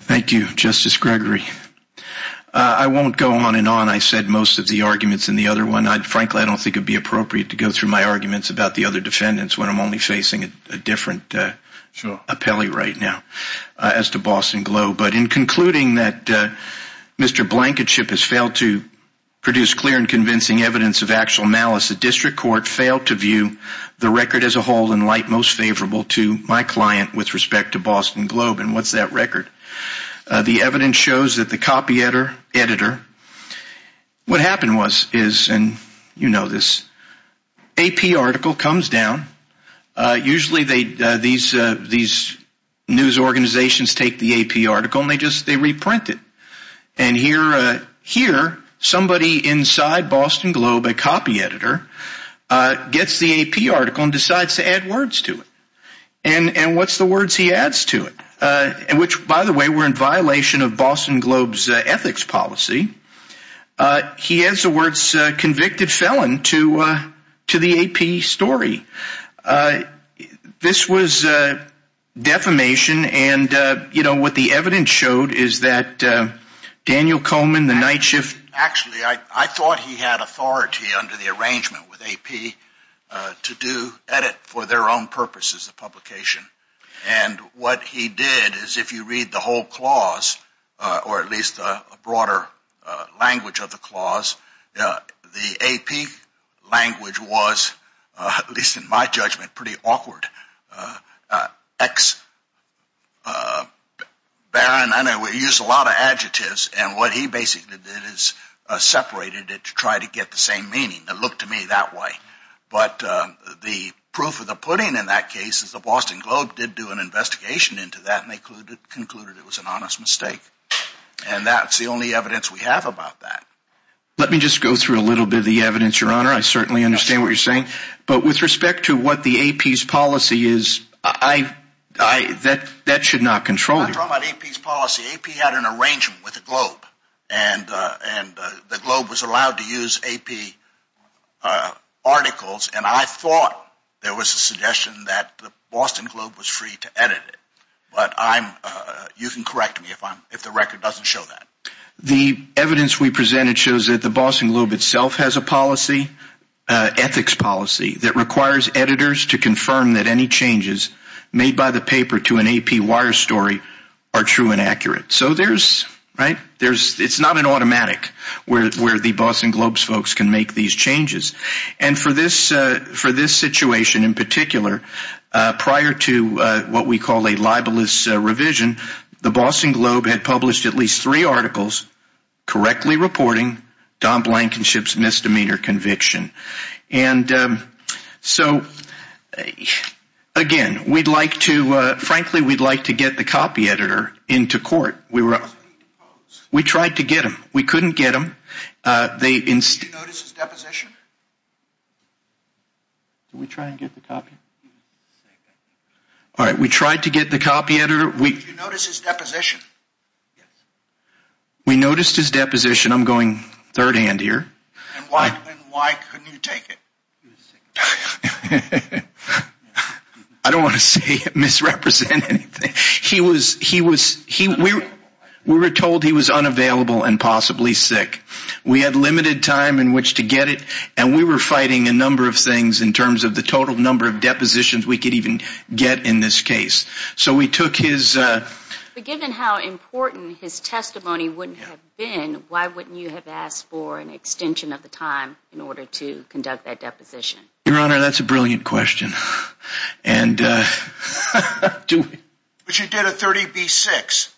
Thank you, Justice Gregory. I won't go on and on. I said most of the arguments in the other one. Frankly, I don't think it would be appropriate to go through my arguments about the other defendants when I'm only facing a different appellee right now as to Boston Globe. But in concluding that Mr. Blankenship has failed to produce clear and convincing evidence of actual malice, the district court failed to view the record as a whole in light most favorable to my client with respect to Boston Globe. And what's that record? The evidence shows that the copy editor, what happened was, is, and you know this, AP article comes down. Usually these news organizations take the AP article and they just reprint it. And here, somebody inside Boston Globe, a copy editor, gets the AP article and decides to add words to it. And what's the words he adds to it? Which, by the way, were in violation of Boston Globe's ethics policy. He adds the words convicted felon to the AP story. This was defamation and, you know, what the evidence showed is that Daniel Coleman, the night shift actually, I thought he had authority under the arrangement with AP to do edit for their own purposes of publication. And what he did is if you read the whole clause, or at least a broader language of the clause, the AP language was, at least in my judgment, pretty awkward. Ex-baron, I know we use a lot of adjectives, and what he basically did is separated it to try to get the same meaning. It looked to me that way. But the proof of the pudding in that case is the Boston Globe did do an investigation into that and they concluded it was an honest mistake. And that's the only evidence we have about that. Let me just go through a little bit of the evidence, Your Honor. I certainly understand what you're saying. But with respect to what the AP's policy is, I, I, that should not control you. I'm talking about AP's policy. AP had an arrangement with the Globe and the Globe was allowed to use AP articles and I thought there was a suggestion that the Boston Globe was free to edit it. But I'm, you can correct me if I'm, if the record doesn't show that. The evidence we presented shows that the Boston Globe itself has a policy, ethics policy, that requires editors to confirm that any changes made by the paper to an AP wire story are true and accurate. So there's, right, there's, it's not an automatic where, where the Boston Globe's folks can make these changes. And for this, for this situation in particular, prior to what we call a libelous revision, the Boston Globe had published at least three articles correctly reporting Don Blankenship's misdemeanor conviction. And so, again, we'd like to, frankly, we'd like to get the copy editor into court. We were, we tried to get him. We couldn't get him. They, in, did you notice his deposition? Did we try and get the copy? All right, we tried to get the copy editor. Did you notice his deposition? Yes. We noticed his deposition. I'm going thirdhand here. And why couldn't you take it? I don't want to say, misrepresent anything. He was, he was, he, we were told he was unavailable and possibly sick. We had limited time in which to get it, and we were fighting a number of things in terms of the total number of depositions we could even get in this case. So we took his... But given how important his testimony wouldn't have been, why wouldn't you have asked for an extension of the time in order to conduct that deposition? Your Honor, that's a brilliant question. And... But you did a 30B6.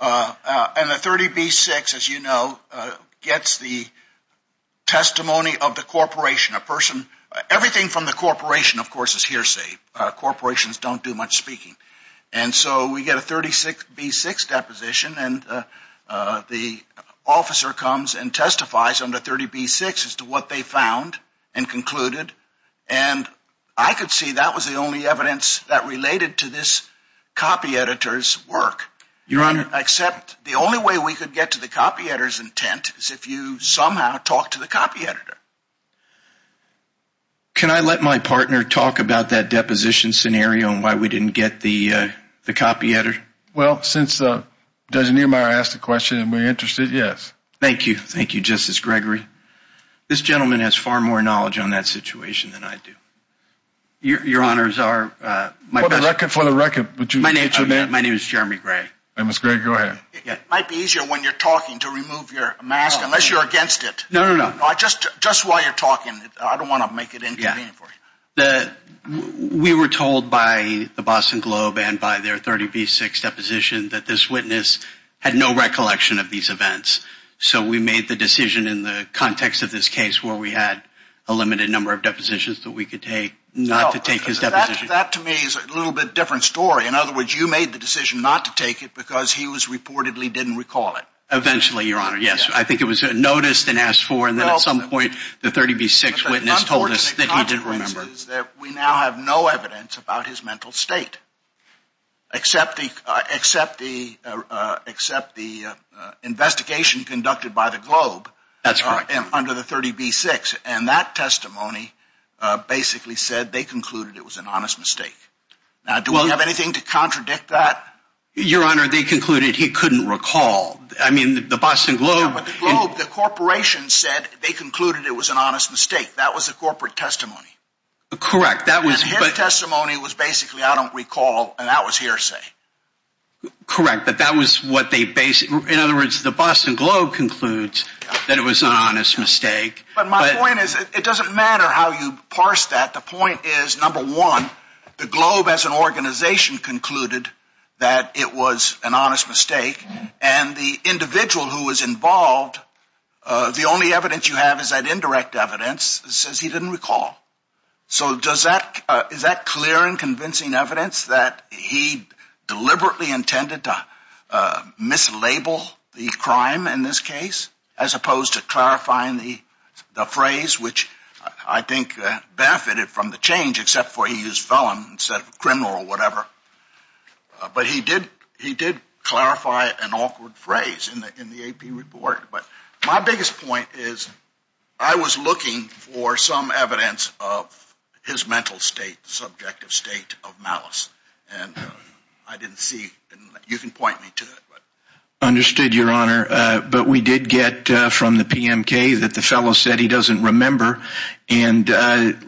And the 30B6, as you know, gets the testimony of the corporation. A person, everything from the corporation, of course, is hearsay. Corporations don't do much speaking. And so we get a 30B6 deposition, and the officer comes and testifies on the 30B6 as to what they found and concluded. And I could see that was the only evidence that related to this copy editor's work. Your Honor... Except the only way we could get to the copy editor's intent is if you somehow talk to the copy editor. Can I let my partner talk about that deposition scenario and why we didn't get the copy editor? Well, since... Does Niemeyer ask the question and we're interested? Yes. Thank you. Thank you, Justice Gregory. This gentleman has far more knowledge on that situation than I do. Your Honors, my... For the record, would you... My name is Jeremy Gray. Mr. Gray, go ahead. It might be easier when you're talking to remove your mask unless you're against it. No, no, no. Just while you're talking. I don't want to make it inconvenient for you. We were told by the Boston Globe and by their 30B6 deposition that this witness had no recollection of these events. So we made the decision in the context of this case where we had a limited number of depositions that we could take not to take his deposition. That to me is a little bit different story. In other words, you made the decision not to take it because he was noticed and asked for and then at some point the 30B6 witness told us that he didn't remember. The unfortunate consequence is that we now have no evidence about his mental state except the investigation conducted by the Globe under the 30B6 and that testimony basically said they concluded it was an honest mistake. Now, do we have anything to contradict that? Your Honor, they concluded he couldn't recall. I mean, the Boston Globe... Yeah, but the Globe, the corporation said they concluded it was an honest mistake. That was a corporate testimony. Correct. That was... And his testimony was basically, I don't recall, and that was hearsay. Correct. But that was what they basically... In other words, the Boston Globe concludes that it was an honest mistake. But my point is it doesn't matter how you concluded that it was an honest mistake and the individual who was involved, the only evidence you have is that indirect evidence that says he didn't recall. So is that clear and convincing evidence that he deliberately intended to mislabel the crime in this case as opposed to clarifying the phrase, which I think benefited from the change except for he used felon instead of criminal or whatever. But he did clarify an awkward phrase in the AP report. But my biggest point is I was looking for some evidence of his mental state, subjective state of malice. And I didn't see... You can point me to it. Understood, Your Honor. But we did get from the PMK that the fellow said he doesn't remember. And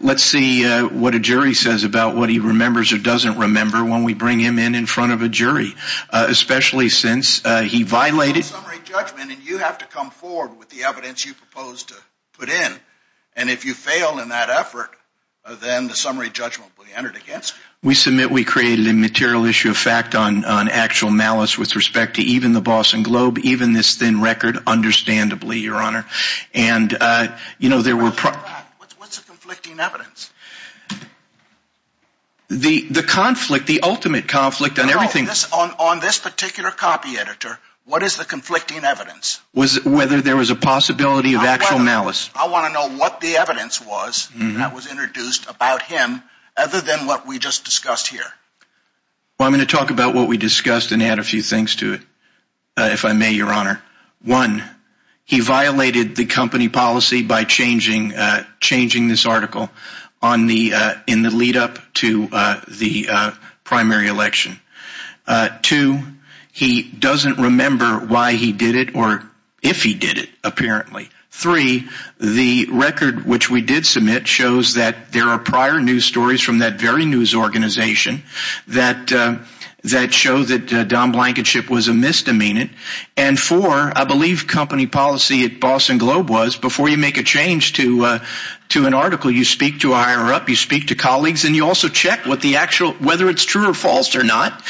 let's see what a jury says about what he remembers or doesn't remember when we bring him in in front of a jury, especially since he violated... Summary judgment and you have to come forward with the evidence you propose to put in. And if you fail in that effort, then the summary judgment will be entered against you. We submit we created a material issue of fact on actual malice with respect to even the Boston conflicting evidence. The conflict, the ultimate conflict on everything on this particular copy editor, what is the conflicting evidence was whether there was a possibility of actual malice? I want to know what the evidence was that was introduced about him other than what we just discussed here. Well, I'm going to talk about what we discussed and add a few things to it. If I may, Your Honor, one, he violated the company policy by changing this article in the lead up to the primary election. Two, he doesn't remember why he did it or if he did it, apparently. Three, the record which we did submit shows that there are prior news stories from that very news organization that show that Don Blankenship was a misdemeanant and four, I believe company policy at Boston Globe was before you make a change to to an article, you speak to a higher up, you speak to colleagues and you also check what the actual whether it's true or false or not.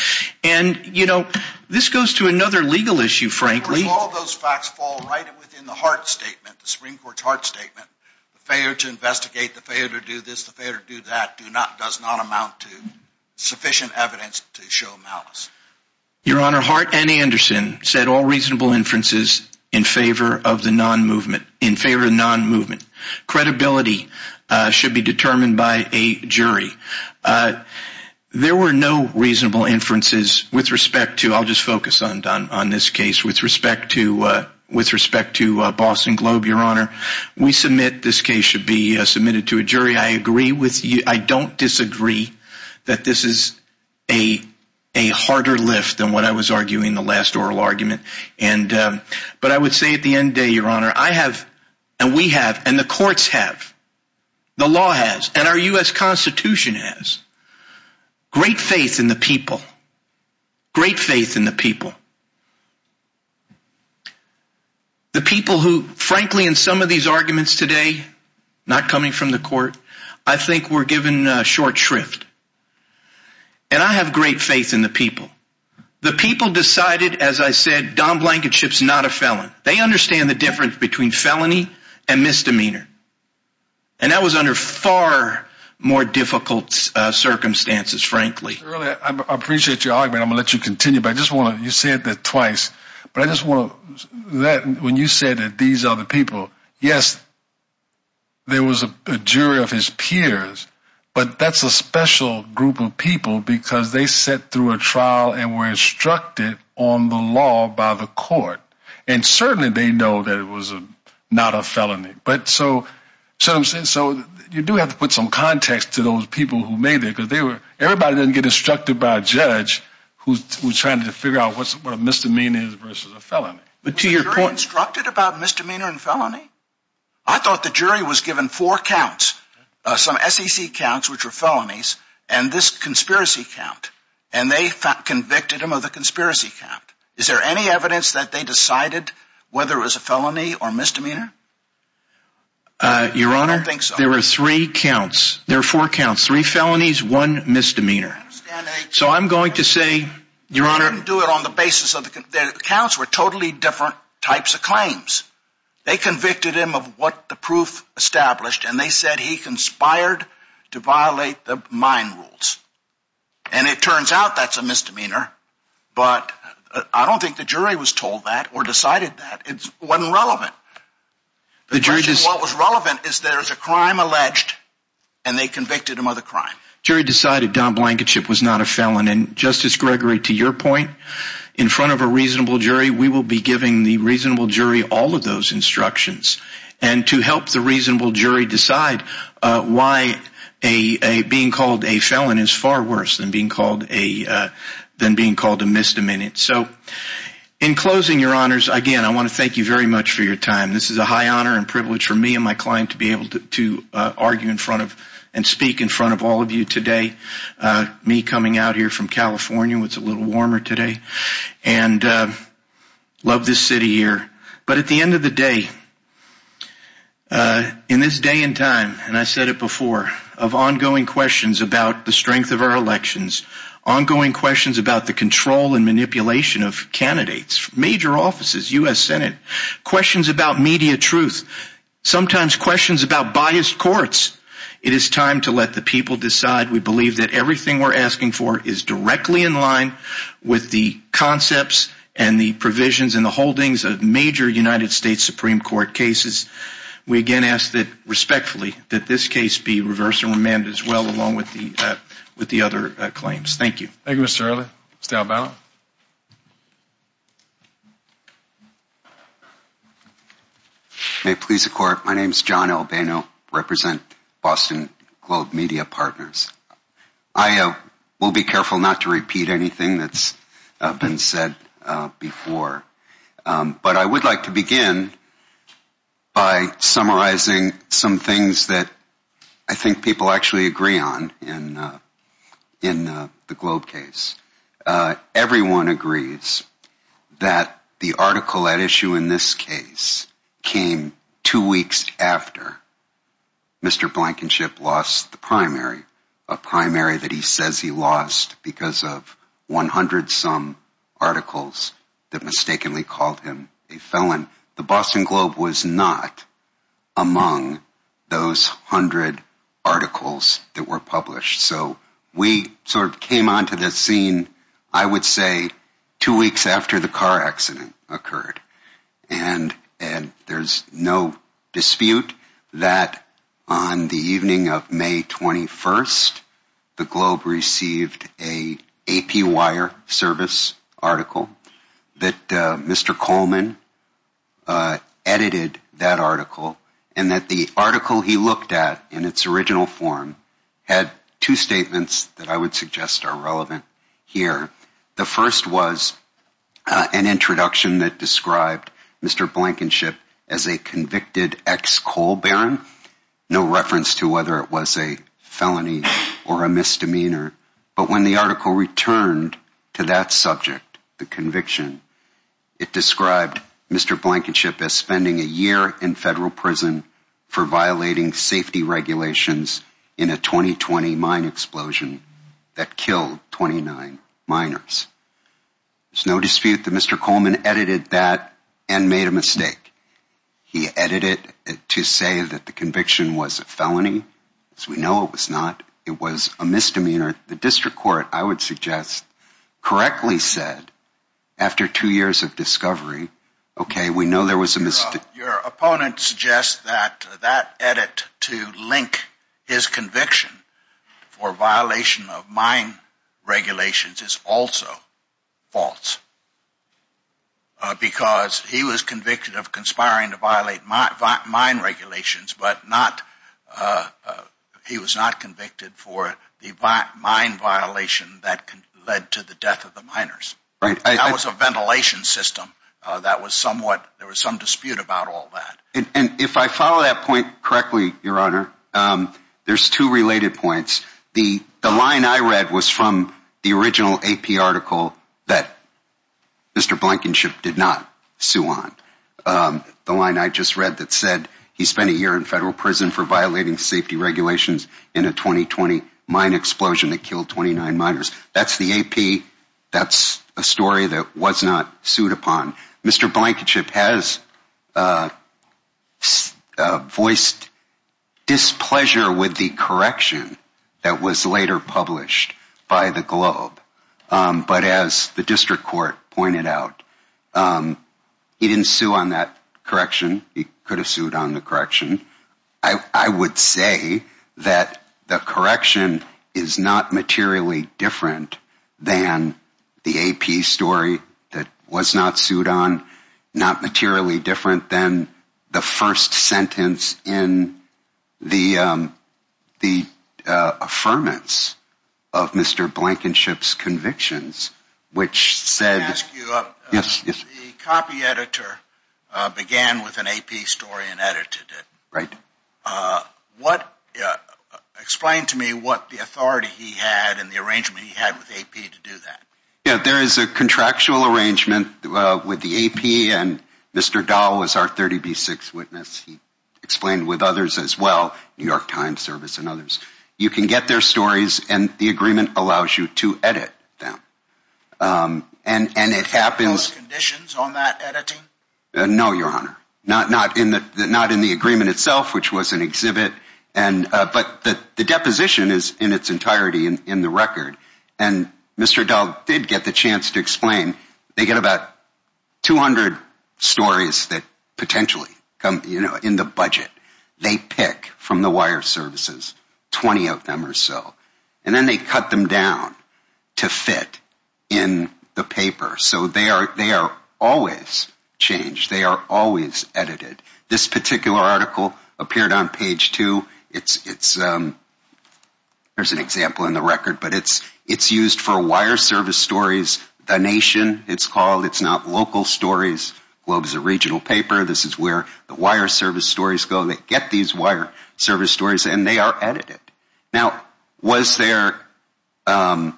And, you know, this goes to another legal issue, frankly. All of those facts fall right within the heart statement. The Supreme Court's heart statement, the failure to investigate, the failure to do this, the failure to do that, do not does not amount to sufficient evidence to show malice. Your Honor, Hart and Anderson said all reasonable inferences in favor of the non-movement, in favor of non-movement. Credibility should be determined by a jury. There were no reasonable inferences with respect to, I'll just focus on this case, with respect to Boston Globe, Your Honor. We submit this case should be submitted to a jury. I agree with you. I don't disagree that this is a a harder lift than what I was arguing in the last oral argument. And but I would say at the end day, Your Honor, I have and we have and the courts have the law has and our U.S. Constitution has great faith in the people, great faith in the people. The people who, frankly, in some of these arguments today, not coming from the court, I think we're given short shrift. And I have great faith in the people. The people decided, as I said, Don Blankenship's not a felon. They understand the difference between felony and misdemeanor. And that was under far more difficult circumstances, frankly. I appreciate your argument. I'm gonna let you continue, but I just want to you said twice. But I just want that when you said that these other people, yes, there was a jury of his peers, but that's a special group of people because they sat through a trial and were instructed on the law by the court. And certainly they know that it was not a felony. But so you do have to put some context to those people who made it because they were everybody didn't get instructed by a misdemeanor versus a felony. But to your point, instructed about misdemeanor and felony. I thought the jury was given four counts, some SEC counts, which were felonies and this conspiracy count, and they convicted him of the conspiracy count. Is there any evidence that they decided whether it was a felony or misdemeanor? Your Honor, there were three counts. There are four counts, three felonies, one misdemeanor. So I'm going to say, Your Honor, do it on the basis that counts were totally different types of claims. They convicted him of what the proof established, and they said he conspired to violate the mine rules. And it turns out that's a misdemeanor. But I don't think the jury was told that or decided that it wasn't relevant. The jury just what was relevant is there is a crime alleged and they convicted him of the crime. Jury decided Don Blankenship was not a felon. And Justice Gregory, to your point, in front of a reasonable jury, we will be giving the reasonable jury all of those instructions and to help the reasonable jury decide why being called a felon is far worse than being called a misdemeanor. So in closing, Your Honors, again, I want to thank you very much for your time. This is a high honor and privilege for me and my client to be able to argue in front of and speak in front of all of you today. Me coming out here from California, it's a little warmer today and love this city here. But at the end of the day, in this day and time, and I said it before, of ongoing questions about the strength of our elections, ongoing questions about the control and manipulation of candidates, major offices, U.S. Senate, questions about media truth, sometimes questions about biased courts. It is time to let the people decide. We believe that everything we're asking for is directly in line with the concepts and the provisions and the holdings of major United States Supreme Court cases. We again ask that, respectfully, that this case be reversed and remanded as well, along with the other claims. Thank you. Thank you, Mr. Early. Mr. Albano. May it please the Court, my name is John Albano. I represent Boston Globe Media Partners. I will be careful not to repeat anything that's been said before. But I would like to begin by summarizing some things that I think people actually agree on in the Globe case. Every time I hear a case, everyone agrees that the article at issue in this case came two weeks after Mr. Blankenship lost the primary, a primary that he says he lost because of 100 some articles that mistakenly called him a felon. The Boston Globe was not among those 100 articles that were published. So we sort of came onto the scene, I would say, two weeks after the car accident occurred. And there's no dispute that on the evening of May 21st, the Globe received a AP wire service article that Mr. Coleman edited that article, and that the article he looked at in its original form had two statements that I would suggest are relevant here. The first was an introduction that described Mr. Blankenship as a convicted ex-coal baron, no reference to whether it was a felony or a misdemeanor. But when the article returned to that subject, the conviction, it described Mr. Blankenship as spending a year in federal prison for violating safety regulations in a 2020 mine explosion that killed 29 miners. There's no dispute that Mr. Coleman edited that and made a mistake. He edited it to say that the conviction was a felony, as we know it was not. It was a misdemeanor. The district court, I would suggest, correctly said, after two years of discovery, okay, we know there was a mistake. Your opponent suggests that that edit to link his conviction for violation of mine regulations is also false because he was convicted of conspiring to violate mine regulations, but he was not convicted for the mine violation that led to the death of the miners. That was a ventilation system that was somewhat, there was some dispute about all that. And if I follow that point correctly, Your Honor, there's two related points. The line I read was from the original AP article that Mr. Blankenship did not sue on. The line I just read that said, he spent a year in federal prison for violating safety regulations in a 2020 mine explosion that was not sued upon. Mr. Blankenship has voiced displeasure with the correction that was later published by the Globe. But as the district court pointed out, he didn't sue on that correction. He could have sued on the correction. I would say that the correction is not materially different than the AP story that was not sued on, not materially different than the first sentence in the affirmance of Mr. Blankenship's convictions, which said- Can I ask you- Yes, yes. The copy editor began with an AP story and edited it. Right. What, explain to me what the authority he had and the arrangement he had with AP to do that. Yeah, there is a contractual arrangement with the AP and Mr. Dahl was our 30B6 witness. He explained with others as well, New York Times Service and others. You can get their stories and the agreement allows you to edit them. And it happens- Was there post conditions on that editing? No, your honor. Not in the agreement itself, which was an exhibit. But the deposition is in its entirety in the record. And Mr. Dahl did get the chance to explain. They get about 200 stories that potentially come in the budget. They pick from the wire services, 20 of them or so. And they cut them down to fit in the paper. So they are always changed. They are always edited. This particular article appeared on page two. There's an example in the record, but it's used for wire service stories, the nation it's called. It's not local stories. Globe is a regional paper. This is where the wire service stories go. They get these wire service stories and they are edited. Now, was there- Mr.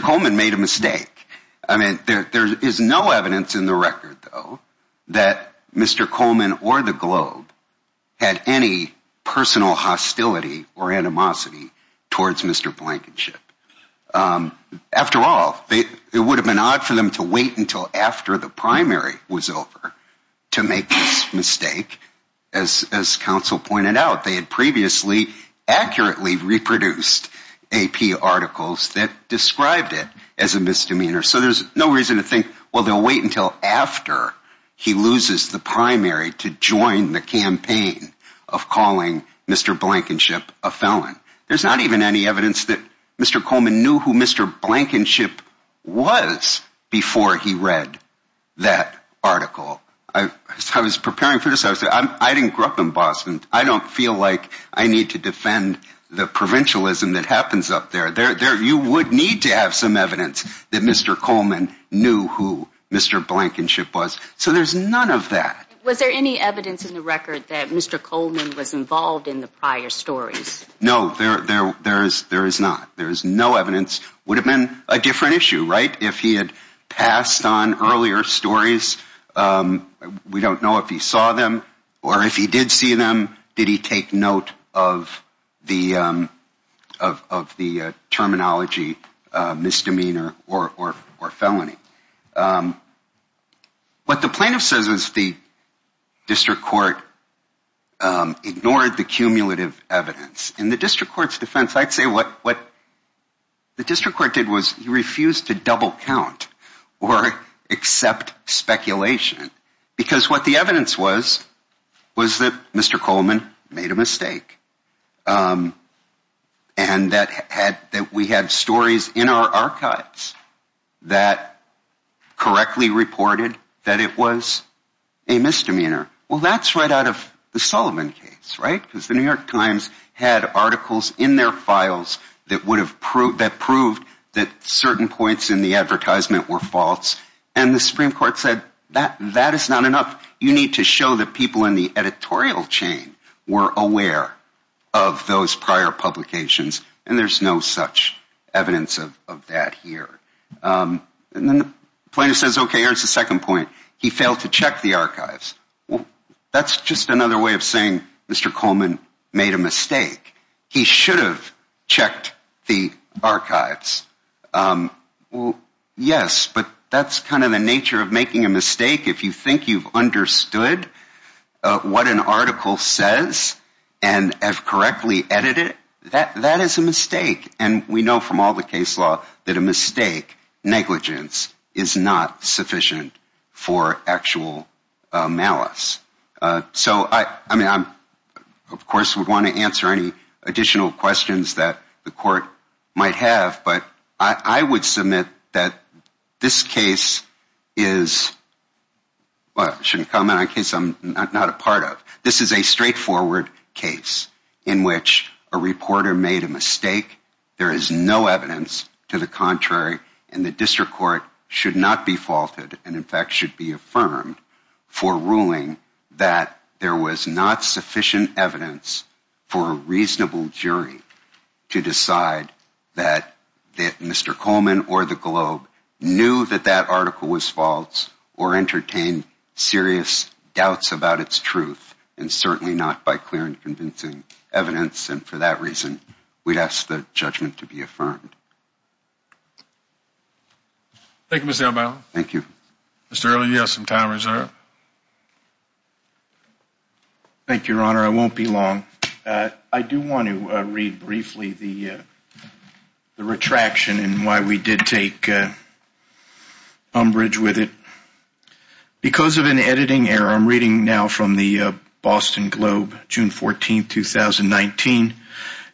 Coleman made a mistake. I mean, there is no evidence in the record though that Mr. Coleman or the Globe had any personal hostility or animosity towards Mr. Blankenship. After all, it would have been odd for them to wait until after the primary was over to make this mistake. As counsel pointed out, they had previously accurately reproduced AP articles that described it as a misdemeanor. So there's no reason to think, well, they'll wait until after he loses the primary to join the campaign of calling Mr. Blankenship a felon. There's not even any evidence that Mr. Coleman knew who Mr. Blankenship was before he read that article. I was preparing for this. I didn't grow up in Boston. I don't feel like I need to defend the provincialism that happens up there. You would need to have some evidence that Mr. Coleman knew who Mr. Blankenship was. So there's none of that. Was there any evidence in the record that Mr. Coleman was involved in the prior stories? No, there is not. There is no evidence. It would have been a different issue, right, if he had passed on earlier stories. We don't know if he saw them or if he did see them. Did he take note of the terminology misdemeanor or felony? What the plaintiff says is the district court ignored the cumulative evidence. In the district court, he refused to double count or accept speculation because what the evidence was, was that Mr. Coleman made a mistake and that we had stories in our archives that correctly reported that it was a misdemeanor. Well, that's right out of the Solomon case, because the New York Times had articles in their files that proved that certain points in the advertisement were false and the Supreme Court said that is not enough. You need to show that people in the editorial chain were aware of those prior publications and there's no such evidence of that here. The plaintiff says, okay, here's the second point. He failed to check the archives. That's just another way of saying Mr. Coleman made a mistake. He should have checked the archives. Well, yes, but that's kind of the nature of making a mistake. If you think you've understood what an article says and have correctly edited it, that is a negligence is not sufficient for actual malice. Of course, we want to answer any additional questions that the court might have, but I would submit that this case is, well, I shouldn't comment on a case I'm not a part of. This is a straightforward case in which a reporter made a mistake. There is no evidence to the contrary and the district court should not be faulted and, in fact, should be affirmed for ruling that there was not sufficient evidence for a reasonable jury to decide that Mr. Coleman or the Globe knew that that article was false or entertained serious doubts about its truth and certainly not by clear and convincing evidence, and for that reason, we'd ask the judgment to be affirmed. Thank you, Mr. O'Malley. Thank you. Mr. Earle, you have some time reserved. Thank you, Your Honor. I won't be long. I do want to read briefly the retraction and why we did take umbrage with it. Because of an editing error, I'm reading now from the Boston Globe, June 14, 2019.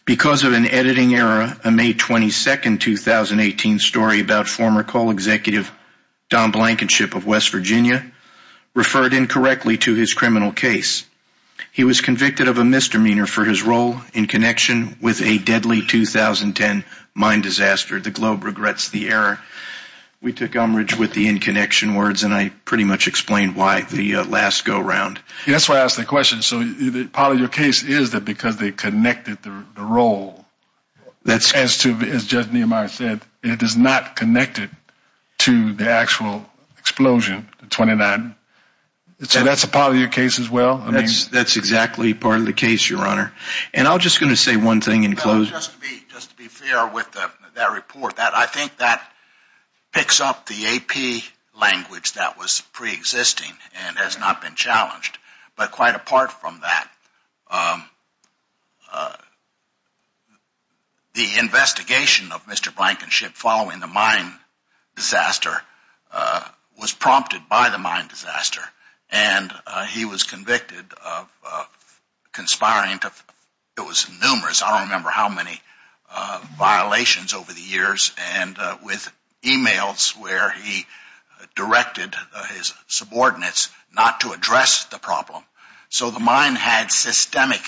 Because of an editing error, a May 22, 2018, story about former coal executive Don Blankenship of West Virginia referred incorrectly to his criminal case. He was convicted of a misdemeanor for his role in connection with a deadly 2010 mine disaster. The Globe regrets the error. We took umbrage with the in-connection words, and I pretty much explained why the last go-round. That's why I asked the question. So part of your case is that because they connected the role, as Judge Nehemiah said, it is not connected to the actual explosion of 29. So that's a part of your case as well? That's exactly part of the case, Your Honor. And I'm just going to say one thing in closing. Just to be fair with that report, I think that picks up the AP language that was pre-existing and has not been challenged. But quite apart from that, the investigation of Mr. Blankenship following the mine disaster was prompted by the mine disaster. And he was convicted of conspiring to, it was numerous, I don't remember how many violations over the years, and with emails where he directed his subordinates not to address the problem. So the mine had systemic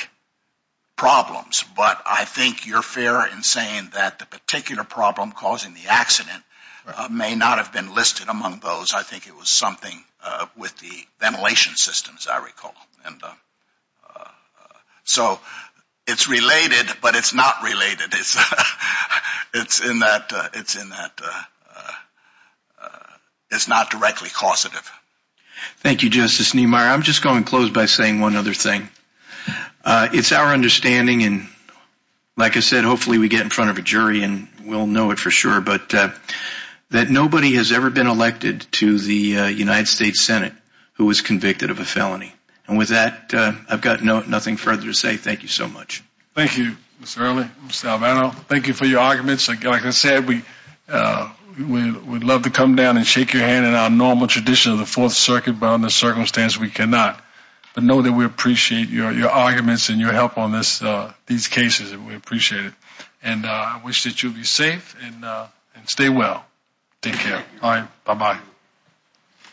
problems. But I think you're fair in saying that the particular problem causing the accident may not have been listed among those. I think it was something with the ventilation systems, I recall. So it's related, but it's not related. It's not directly causative. Thank you, Justice Nehemiah. I'm just going to close by saying one other thing. It's our understanding, and like I said, hopefully we get in front of a jury and we'll know it for sure, but that nobody has ever been elected to the United States Senate who was convicted of a felony. And with that, I've got nothing further to say. Thank you so much. Thank you, Mr. Earley, Mr. Albano. Thank you for your arguments. Like I said, we'd love to come down and shake your hand in our normal tradition of the Fourth Circuit, but under the circumstance, we cannot. But know that we appreciate your arguments and your help on these cases. We wish that you'll be safe and stay well. Take care. Bye-bye.